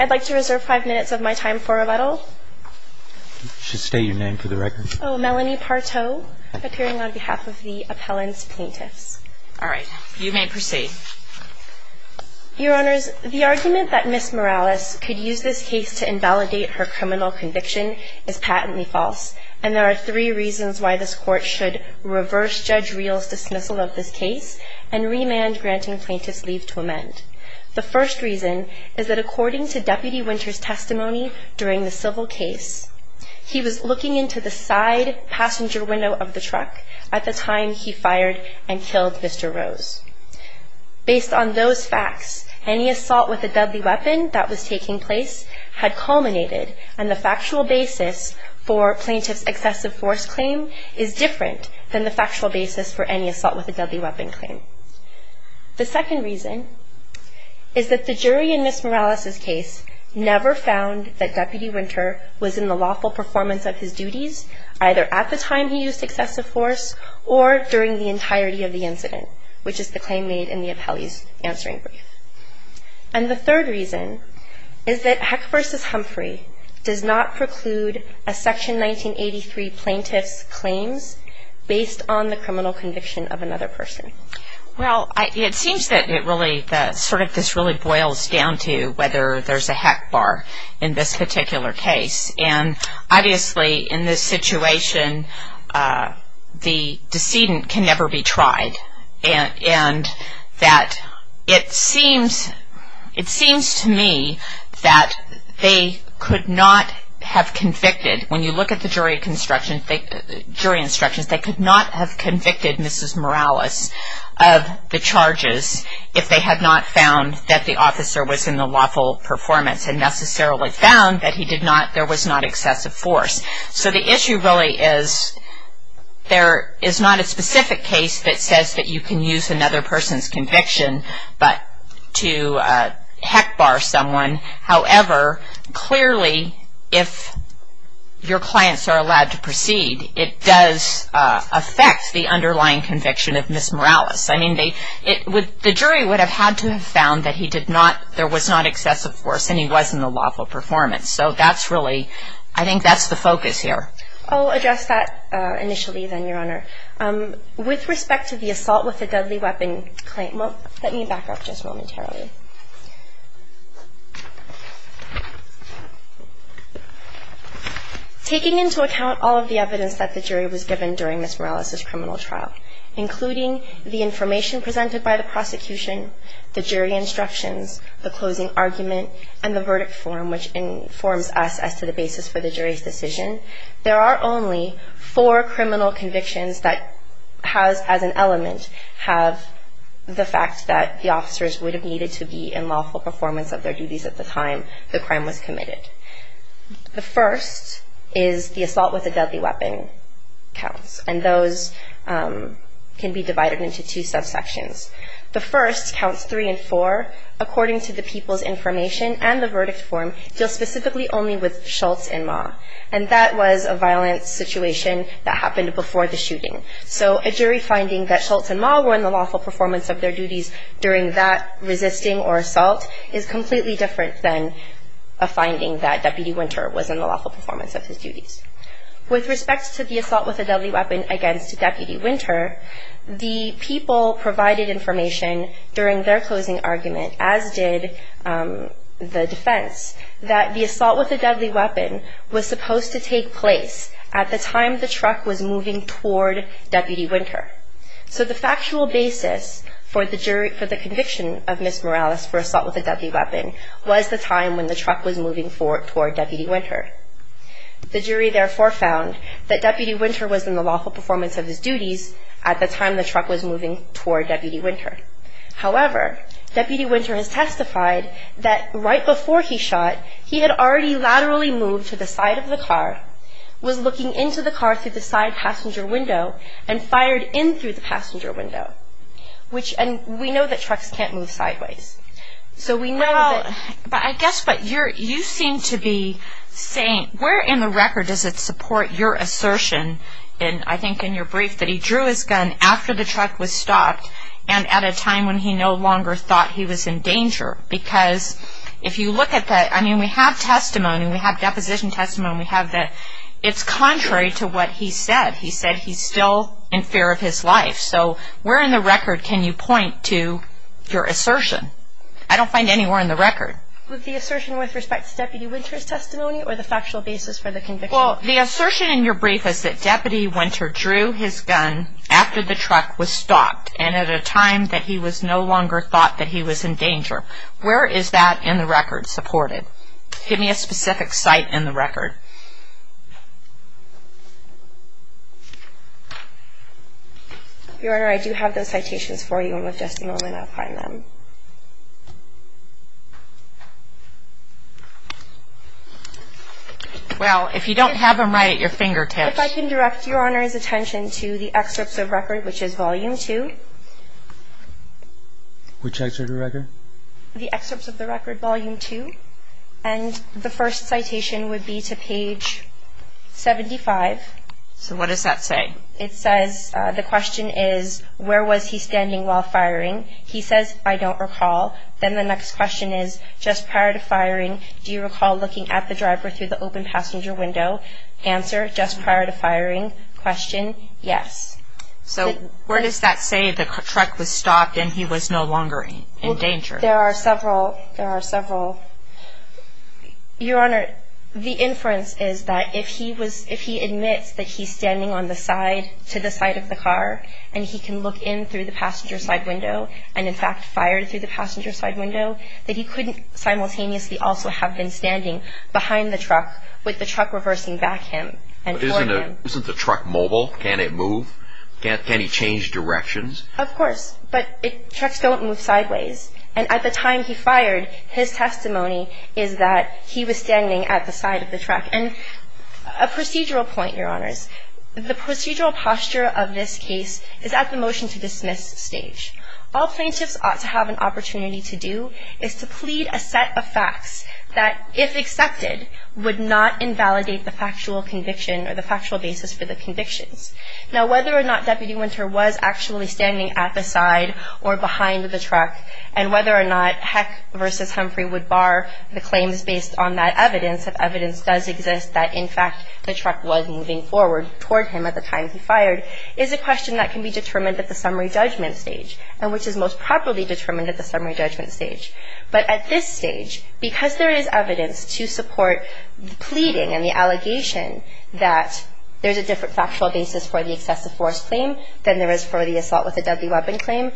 I'd like to reserve five minutes of my time for rebuttal. You should state your name for the record. Melanie Parto, appearing on behalf of the appellant's plaintiffs. All right, you may proceed. Your Honors, the argument that Ms. Morales could use this case to invalidate her criminal conviction is patently false, and there are three reasons why this Court should reverse Judge Reel's dismissal of this case and remand granting plaintiffs' leave to amend. The first reason is that according to Deputy Winters' testimony during the civil case, he was looking into the side passenger window of the truck at the time he fired and killed Mr. Rose. Based on those facts, any assault with a deadly weapon that was taking place had culminated, and the factual basis for plaintiff's excessive force claim is different than the factual basis for any assault with a deadly weapon claim. The second reason is that the jury in Ms. Morales' case never found that Deputy Winter was in the lawful performance of his duties either at the time he used excessive force or during the entirety of the incident, which is the claim made in the appellee's answering brief. And the third reason is that Heck v. Humphrey does not preclude a Section 1983 plaintiff's claims based on the criminal conviction of another person. Well, it seems that this really boils down to whether there's a Heck bar in this particular case. And obviously in this situation, the decedent can never be tried. And it seems to me that they could not have convicted, when you look at the jury instructions, they could not have convicted Mrs. Morales of the charges if they had not found that the officer was in the lawful performance and necessarily found that there was not excessive force. So the issue really is there is not a specific case that says that you can use another person's conviction to Heck bar someone. However, clearly if your clients are allowed to proceed, it does affect the underlying conviction of Ms. Morales. I mean, the jury would have had to have found that there was not excessive force and he was in the lawful performance. So that's really, I think that's the focus here. I'll address that initially then, Your Honor. With respect to the assault with a deadly weapon claim, well, let me back up just momentarily. Taking into account all of the evidence that the jury was given during Ms. Morales' criminal trial, including the information presented by the prosecution, the jury instructions, the closing argument, and the verdict form which informs us as to the basis for the jury's decision, there are only four criminal convictions that has, as an element, have the fact that the officers would have needed to be in lawful performance of their duties at the time the crime was committed. The first is the assault with a deadly weapon counts, and those can be divided into two subsections. The first counts three and four, according to the people's information and the verdict form, deal specifically only with Schultz and Ma. And that was a violent situation that happened before the shooting. So a jury finding that Schultz and Ma were in the lawful performance of their duties during that resisting or assault is completely different than a finding that Deputy Winter was in the lawful performance of his duties. With respect to the assault with a deadly weapon against Deputy Winter, the people provided information during their closing argument, as did the defense, that the assault with a deadly weapon was supposed to take place at the time the truck was moving toward Deputy Winter. So the factual basis for the conviction of Ms. Morales for assault with a deadly weapon was the time when the truck was moving toward Deputy Winter. The jury therefore found that Deputy Winter was in the lawful performance of his duties at the time the truck was moving toward Deputy Winter. However, Deputy Winter has testified that right before he shot, he had already laterally moved to the side of the car, was looking into the car through the side passenger window, and fired in through the passenger window. And we know that trucks can't move sideways. Well, I guess what you seem to be saying, where in the record does it support your assertion, and I think in your brief, that he drew his gun after the truck was stopped and at a time when he no longer thought he was in danger? Because if you look at that, I mean, we have testimony, we have deposition testimony, we have that it's contrary to what he said. He said he's still in fear of his life. So where in the record can you point to your assertion? I don't find anywhere in the record. The assertion with respect to Deputy Winter's testimony or the factual basis for the conviction? Well, the assertion in your brief is that Deputy Winter drew his gun after the truck was stopped and at a time that he no longer thought that he was in danger. Where is that in the record supported? Give me a specific site in the record. Your Honor, I do have those citations for you, and with just a moment I'll find them. Well, if you don't have them right at your fingertips. If I can direct Your Honor's attention to the excerpts of record, which is volume 2. Which excerpt of record? The excerpts of the record, volume 2, and the first citation would be to page 75. So what does that say? It says, the question is, where was he standing while firing? He says, I don't recall. Then the next question is, just prior to firing, do you recall looking at the driver through the open passenger window? Answer, just prior to firing. Question, yes. So where does that say the truck was stopped and he was no longer in danger? There are several. There are several. Your Honor, the inference is that if he admits that he's standing on the side, to the side of the car, and he can look in through the passenger side window, and in fact fired through the passenger side window, that he couldn't simultaneously also have been standing behind the truck with the truck reversing back him. Isn't the truck mobile? Can it move? Can he change directions? Of course. But trucks don't move sideways. And at the time he fired, his testimony is that he was standing at the side of the truck. And a procedural point, Your Honors. The procedural posture of this case is at the motion-to-dismiss stage. All plaintiffs ought to have an opportunity to do is to plead a set of facts that, if accepted, would not invalidate the factual conviction or the factual basis for the convictions. Now, whether or not Deputy Winter was actually standing at the side or behind the truck, and whether or not Heck v. Humphrey would bar the claims based on that evidence, if evidence does exist that, in fact, the truck was moving forward toward him at the time he fired, is a question that can be determined at the summary judgment stage, and which is most properly determined at the summary judgment stage. But at this stage, because there is evidence to support the pleading and the allegation that there's a different factual basis for the excessive force claim than there is for the assault with a deadly weapon claim,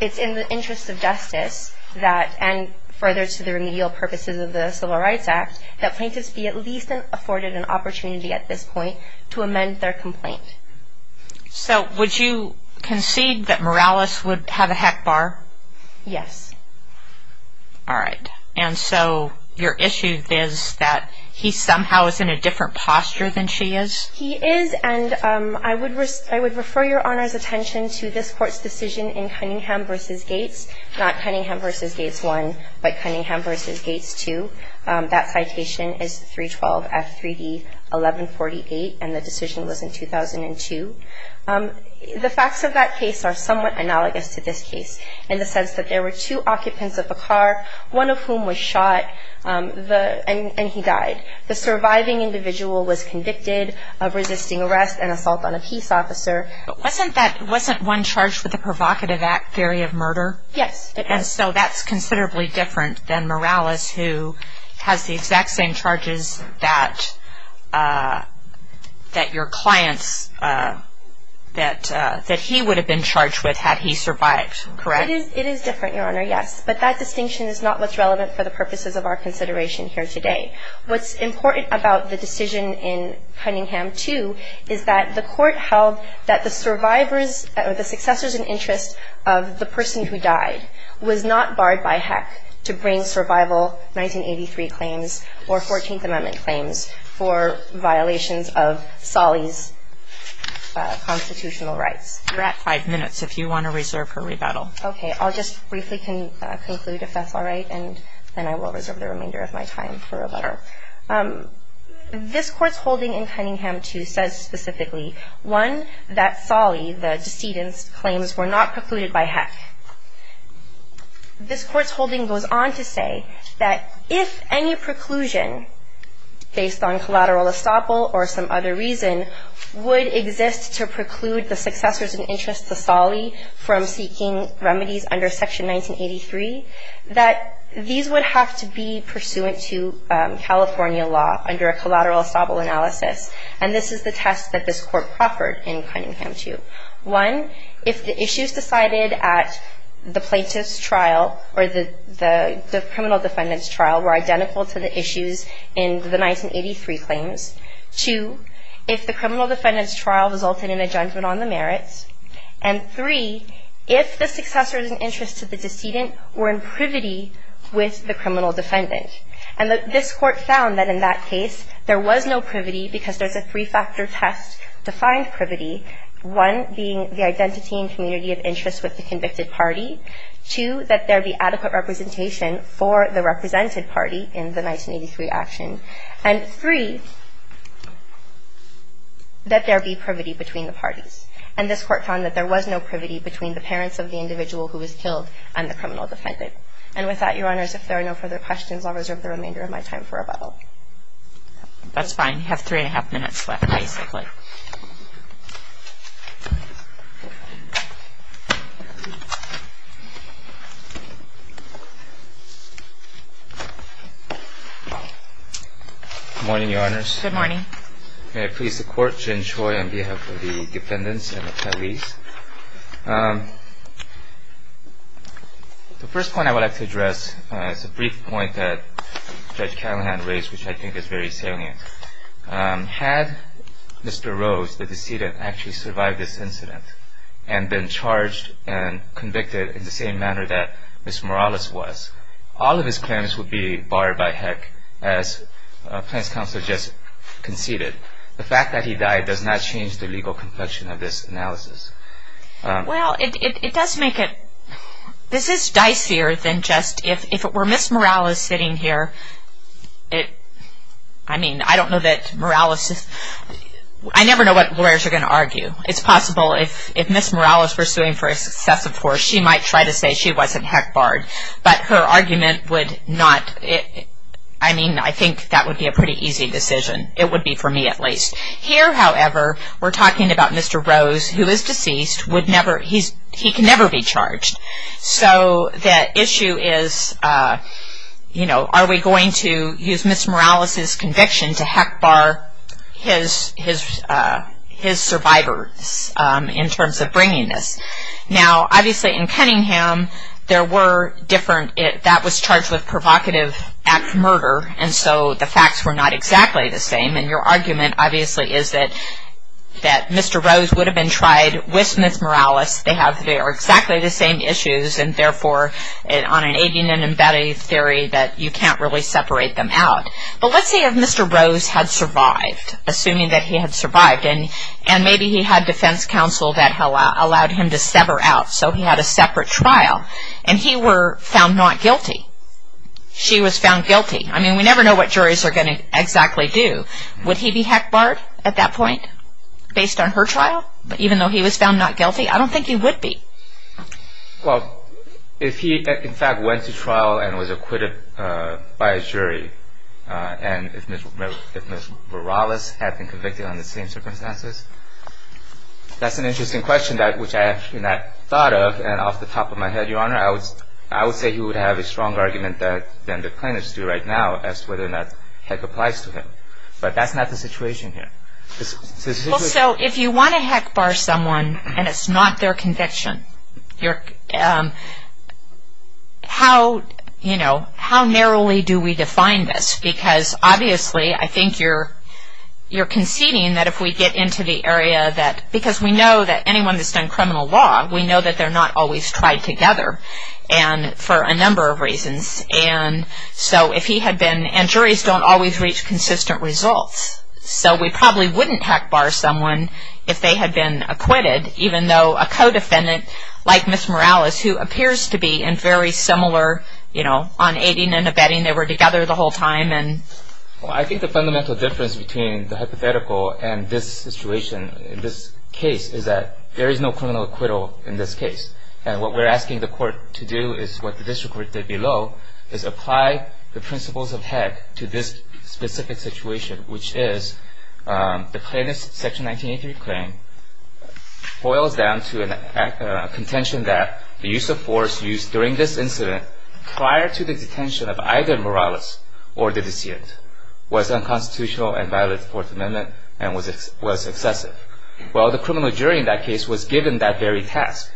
it's in the interest of justice that, and further to the remedial purposes of the Civil Rights Act, that plaintiffs be at least afforded an opportunity at this point to amend their complaint. So would you concede that Morales would have a Heck bar? Yes. All right. And so your issue is that he somehow is in a different posture than she is? He is, and I would refer Your Honor's attention to this Court's decision in Cunningham v. Gates, not Cunningham v. Gates I, but Cunningham v. Gates II. That citation is 312 F. 3D 1148, and the decision was in 2002. The facts of that case are somewhat analogous to this case, in the sense that there were two occupants of the car, one of whom was shot, and he died. The surviving individual was convicted of resisting arrest and assault on a peace officer. But wasn't one charged with a provocative act, theory of murder? Yes, it was. And so that's considerably different than Morales, who has the exact same charges that your client's, that he would have been charged with had he survived, correct? It is different, Your Honor, yes. But that distinction is not what's relevant for the purposes of our consideration here today. What's important about the decision in Cunningham II is that the Court held that the survivors or the successors in interest of the person who died was not barred by heck to bring survival 1983 claims or 14th Amendment claims for violations of Solly's constitutional rights. You're at five minutes. If you want to reserve her rebuttal. Okay. I'll just briefly conclude, if that's all right, and then I will reserve the remainder of my time for a letter. This Court's holding in Cunningham II says specifically, one, that Solly, the decedent's claims, were not precluded by heck. This Court's holding goes on to say that if any preclusion based on collateral estoppel or some other reason would exist to preclude the successors in interest to Solly from seeking remedies under Section 1983, that these would have to be pursuant to California law under a collateral estoppel analysis. And this is the test that this Court proffered in Cunningham II. One, if the issues decided at the plaintiff's trial or the criminal defendant's trial were identical to the issues in the 1983 claims. Two, if the criminal defendant's trial resulted in a judgment on the merits. And three, if the successors in interest to the decedent were in privity with the criminal defendant. And this Court found that in that case, there was no privity because there's a three-factor test to find privity, one being the identity and community of interest with the convicted party. Two, that there be adequate representation for the represented party in the 1983 action. And three, that there be privity between the parties. And this Court found that there was no privity between the parents of the individual who was killed and the criminal defendant. And with that, Your Honors, if there are no further questions, I'll reserve the remainder of my time for rebuttal. That's fine. You have three and a half minutes left, basically. Good morning, Your Honors. Good morning. May I please the Court, Jen Choi, on behalf of the defendants and the attorneys. The first point I would like to address is a brief point that Judge Callahan raised, which I think is very salient. Had Mr. Rose, the decedent, actually survived this incident and been charged and convicted in the same manner that Ms. Morales was, all of his claims would be barred by heck, as Plaintiff's Counsel just conceded. The fact that he died does not change the legal complexion of this analysis. Well, it does make it, this is dicier than just, if it were Ms. Morales sitting here, it, I mean, I don't know that Morales is, I never know what lawyers are going to argue. It's possible if Ms. Morales were suing for excessive force, she might try to say she wasn't heck barred. But her argument would not, I mean, I think that would be a pretty easy decision. It would be for me, at least. Here, however, we're talking about Mr. Rose, who is deceased, would never, he can never be charged. So the issue is, you know, are we going to use Ms. Morales' conviction to heck bar his survivors in terms of bringing this. Now, obviously, in Cunningham, there were different, that was charged with provocative act murder, and so the facts were not exactly the same. And your argument, obviously, is that Mr. Rose would have been tried with Ms. Morales. They have, they are exactly the same issues, and therefore, on an aiding and abetting theory, that you can't really separate them out. But let's say if Mr. Rose had survived, assuming that he had survived, and maybe he had defense counsel that allowed him to sever out, so he had a separate trial, and he were found not guilty, she was found guilty. I mean, we never know what juries are going to exactly do. Would he be heck barred at that point, based on her trial, even though he was found not guilty? I don't think he would be. Well, if he, in fact, went to trial and was acquitted by a jury, and if Ms. Morales had been convicted under the same circumstances, that's an interesting question, which I actually never thought of. And off the top of my head, Your Honor, I would say he would have a stronger argument than the plaintiffs do right now as to whether or not heck applies to him. But that's not the situation here. Well, so if you want to heck bar someone and it's not their conviction, how narrowly do we define this? Because obviously, I think you're conceding that if we get into the area that, because we know that anyone that's done criminal law, we know that they're not always tried together for a number of reasons. And so if he had been, and juries don't always reach consistent results, so we probably wouldn't heck bar someone if they had been acquitted, even though a co-defendant like Ms. Morales, who appears to be in very similar, you know, on aiding and abetting, they were together the whole time. Well, I think the fundamental difference between the hypothetical and this situation, this case, is that there is no criminal acquittal in this case. And what we're asking the court to do is what the district court did below, is apply the principles of heck to this specific situation, which is the plaintiff's Section 1983 claim boils down to a contention that the use of force used during this incident prior to the detention of either Morales or the deceit was unconstitutional and violated the Fourth Amendment and was excessive. Well, the criminal jury in that case was given that very task.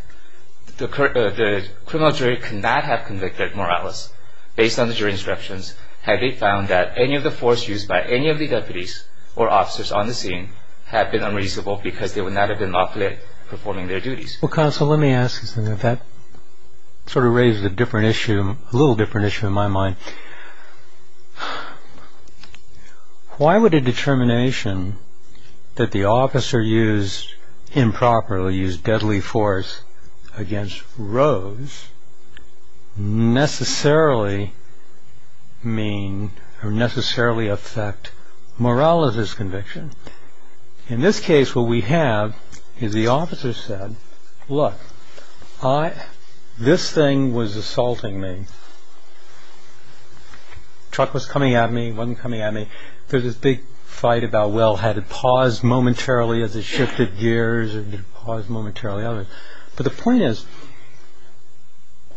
The criminal jury could not have convicted Morales based on the jury instructions had they found that any of the force used by any of the deputies or officers on the scene had been unreasonable because they would not have been lawfully performing their duties. Well, counsel, let me ask you something. That sort of raises a different issue, a little different issue in my mind. Why would a determination that the officer used improperly, used deadly force against Rose necessarily mean or necessarily affect Morales' conviction? In this case, what we have is the officer said, look, this thing was assaulting me. Truck was coming at me, wasn't coming at me. There's this big fight about, well, had it paused momentarily as it shifted gears or did it pause momentarily? But the point is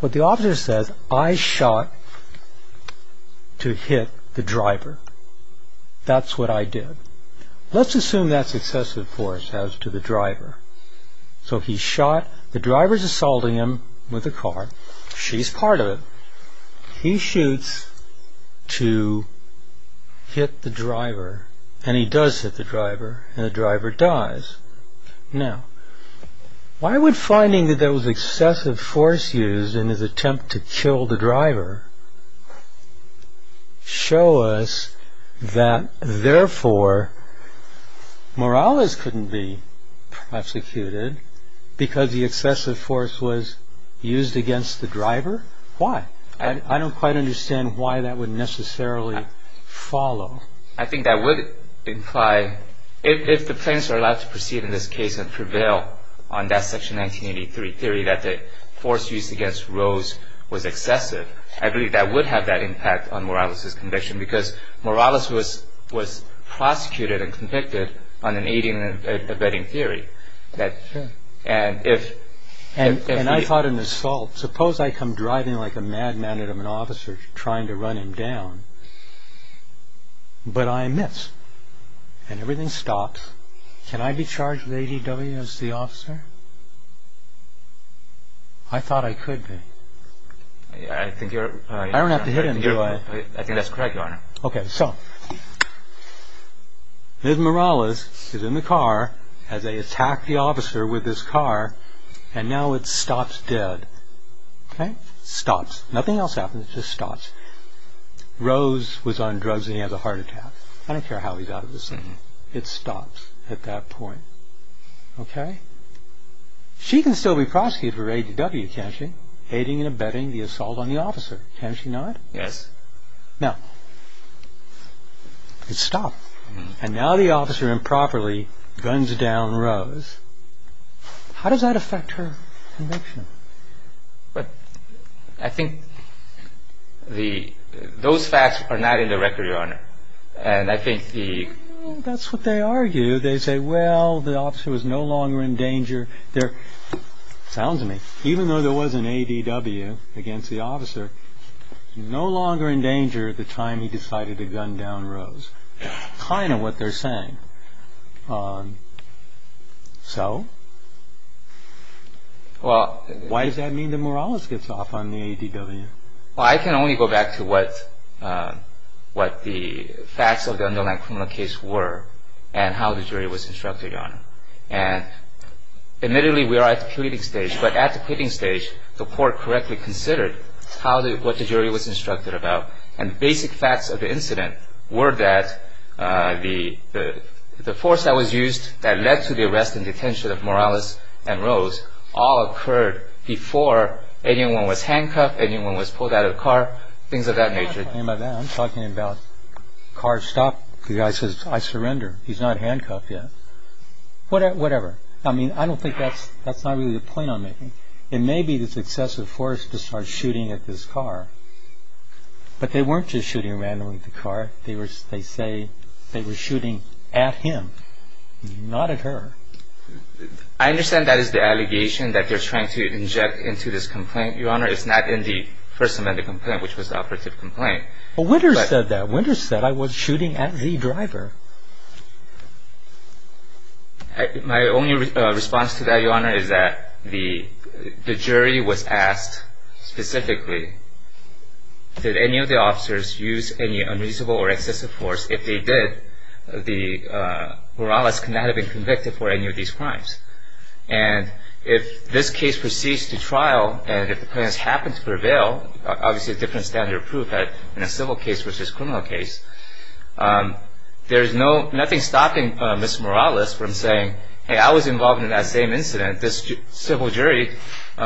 what the officer says, I shot to hit the driver. That's what I did. Let's assume that's excessive force as to the driver. So he shot, the driver's assaulting him with a car. She's part of it. He shoots to hit the driver and he does hit the driver and the driver dies. Now, why would finding that there was excessive force used in his attempt to kill the driver show us that therefore Morales couldn't be prosecuted because the excessive force was used against the driver? Why? I don't quite understand why that would necessarily follow. I think that would imply, if the plaintiffs are allowed to proceed in this case and prevail on that Section 1983 theory that the force used against Rose was excessive, I believe that would have that impact on Morales' conviction because Morales was prosecuted and convicted on an aiding and abetting theory. And I thought an assault. Suppose I come driving like a madman at an officer trying to run him down, but I miss and everything stops. Can I be charged with ADW as the officer? I thought I could be. I don't have to hit him, do I? I think that's correct, Your Honor. Okay, so, Ms. Morales is in the car as they attack the officer with this car and now it stops dead. Okay? It stops. Nothing else happens, it just stops. Rose was on drugs and he has a heart attack. I don't care how he's out of the scene. It stops at that point. Okay? She can still be prosecuted for ADW, can't she? Aiding and abetting the assault on the officer. Can't she not? Yes. Now, it stopped. And now the officer improperly guns down Rose. How does that affect her conviction? I think those facts are not in the record, Your Honor. That's what they argue. They say, well, the officer was no longer in danger. Sounds to me, even though there was an ADW against the officer, no longer in danger at the time he decided to gun down Rose. Kind of what they're saying. So? Why does that mean that Morales gets off on the ADW? Well, I can only go back to what the facts of the underlying criminal case were and how the jury was instructed, Your Honor. And admittedly, we are at the pleading stage, but at the pleading stage, the court correctly considered what the jury was instructed about. And basic facts of the incident were that the force that was used that led to the arrest and detention of Morales and Rose all occurred before anyone was handcuffed, anyone was pulled out of the car, things of that nature. I'm not talking about that. I'm talking about car stop. The guy says, I surrender. He's not handcuffed yet. Whatever. I mean, I don't think that's not really the point I'm making. It may be this excessive force to start shooting at this car, but they weren't just shooting randomly at the car. They say they were shooting at him, not at her. I understand that is the allegation that they're trying to inject into this complaint. Your Honor, it's not in the First Amendment complaint, which was the operative complaint. But Winters said that. Winters said, I was shooting at the driver. My only response to that, Your Honor, is that the jury was asked specifically, did any of the officers use any unreasonable or excessive force? If they did, Morales could not have been convicted for any of these crimes. And if this case proceeds to trial, and if the plaintiff happens to prevail, obviously a different standard of proof in a civil case versus a criminal case, there's nothing stopping Mr. Morales from saying, hey, I was involved in that same incident. This civil jury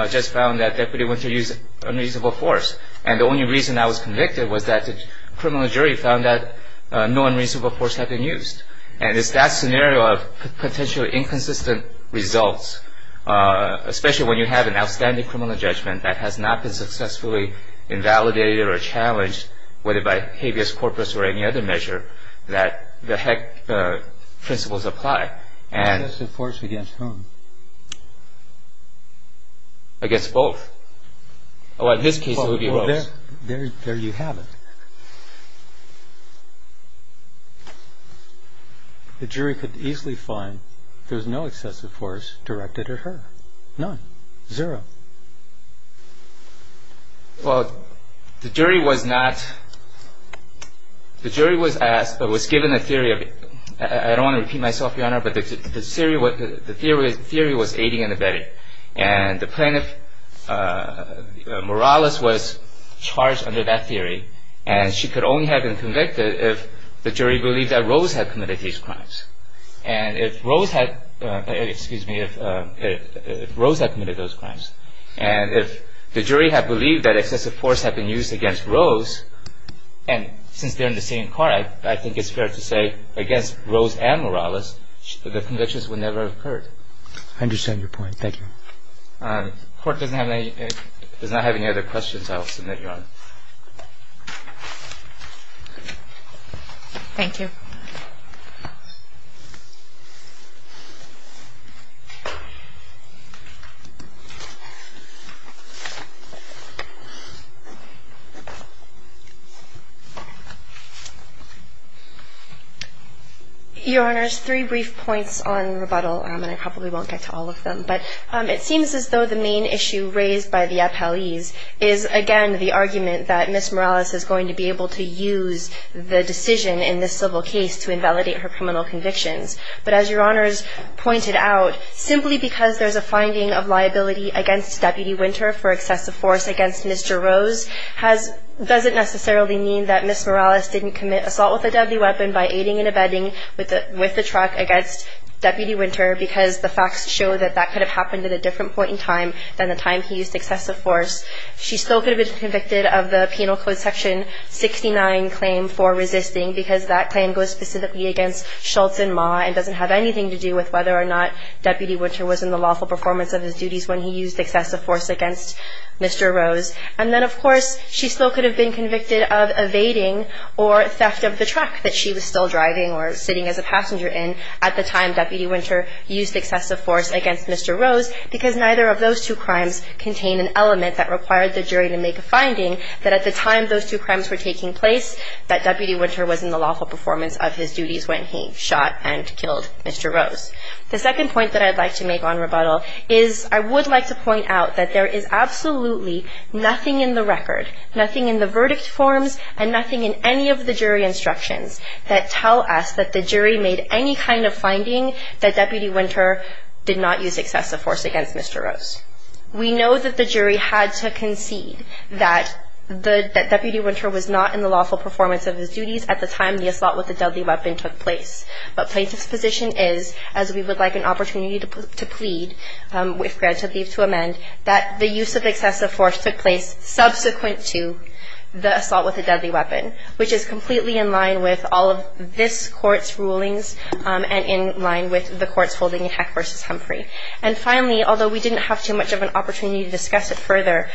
just found that Deputy Winter used unreasonable force. And the only reason I was convicted was that the criminal jury found that no unreasonable force had been used. And it's that scenario of potentially inconsistent results, especially when you have an outstanding criminal judgment that has not been successfully invalidated or challenged, whether by habeas corpus or any other measure, that the HEC principles apply. Excessive force against whom? Against both. Well, in this case it would be both. Well, there you have it. The jury could easily find there was no excessive force directed at her. None. Zero. Well, the jury was not, the jury was asked, but was given a theory of it. I don't want to repeat myself, Your Honor, but the theory was aiding and abetting. And the plaintiff, Morales, was charged under that theory. And she could only have been convicted if the jury believed that Rose had committed these crimes. And if Rose had, excuse me, if Rose had committed those crimes, and if the jury had believed that excessive force had been used against Rose, and since they're in the same car, I think it's fair to say against Rose and Morales, the convictions would never have occurred. I understand your point. Thank you. Court does not have any other questions. I'll submit, Your Honor. Thank you. Your Honor, there's three brief points on rebuttal, and I probably won't get to all of them. But it seems as though the main issue raised by the appellees is, again, the argument that Ms. Morales is going to be able to use the decision in this civil case to invalidate her criminal convictions. But as Your Honors pointed out, simply because there's a finding of liability against Deputy Winter for excessive force against Mr. Rose doesn't necessarily mean that Ms. Morales didn't commit assault with a deadly weapon by aiding and abetting with the truck against Deputy Winter, because the facts show that that could have happened at a different point in time than the time he used excessive force. She still could have been convicted of the Penal Code Section 69 claim for resisting because that claim goes specifically against Shultz and Maw and doesn't have anything to do with whether or not Deputy Winter was in the lawful performance of his duties when he used excessive force against Mr. Rose. And then, of course, she still could have been convicted of evading or theft of the truck that she was still driving or sitting as a passenger in at the time Deputy Winter used excessive force against Mr. Rose because neither of those two crimes contain an element that required the jury to make a finding that at the time those two crimes were taking place, that Deputy Winter was in the lawful performance of his duties when he shot and killed Mr. Rose. The second point that I'd like to make on rebuttal is I would like to point out that there is absolutely nothing in the record, nothing in the verdict forms, and nothing in any of the jury instructions that tell us that the jury made any kind of finding that Deputy Winter did not use excessive force against Mr. Rose. We know that the jury had to concede that Deputy Winter was not in the lawful performance of his duties at the time the assault with a deadly weapon took place. But plaintiff's position is, as we would like an opportunity to plead, if granted leave to amend, that the use of excessive force took place subsequent to the assault with a deadly weapon, which is completely in line with all of this Court's rulings and in line with the Court's holding in Heck v. Humphrey. And finally, although we didn't have too much of an opportunity to discuss it further,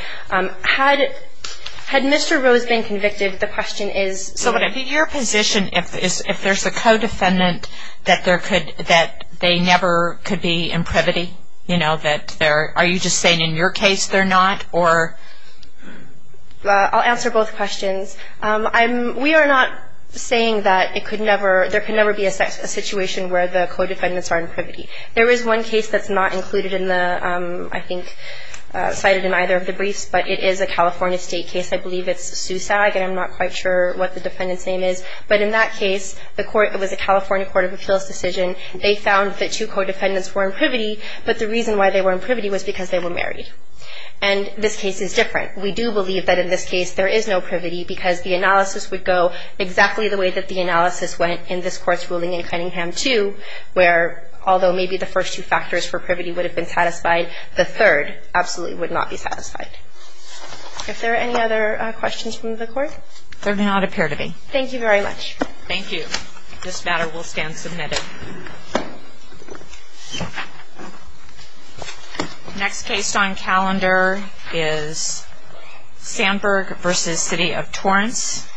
had Mr. Rose been convicted, the question is... So would it be your position if there's a co-defendant that they never could be in privity? Are you just saying in your case they're not? I'll answer both questions. We are not saying that there could never be a situation where the co-defendants are in privity. There is one case that's not included in the, I think, cited in either of the briefs, but it is a California state case. I believe it's SUSAG, and I'm not quite sure what the defendant's name is. But in that case, it was a California Court of Appeals decision. They found that two co-defendants were in privity, but the reason why they were in privity was because they were married. And this case is different. We do believe that in this case there is no privity because the analysis would go exactly the way that the analysis went in this Court's ruling in Cunningham 2, where although maybe the first two factors for privity would have been satisfied, the third absolutely would not be satisfied. If there are any other questions from the Court? There do not appear to be. Thank you very much. Thank you. This matter will stand submitted. Next case on calendar is Sandburg v. City of Torrance.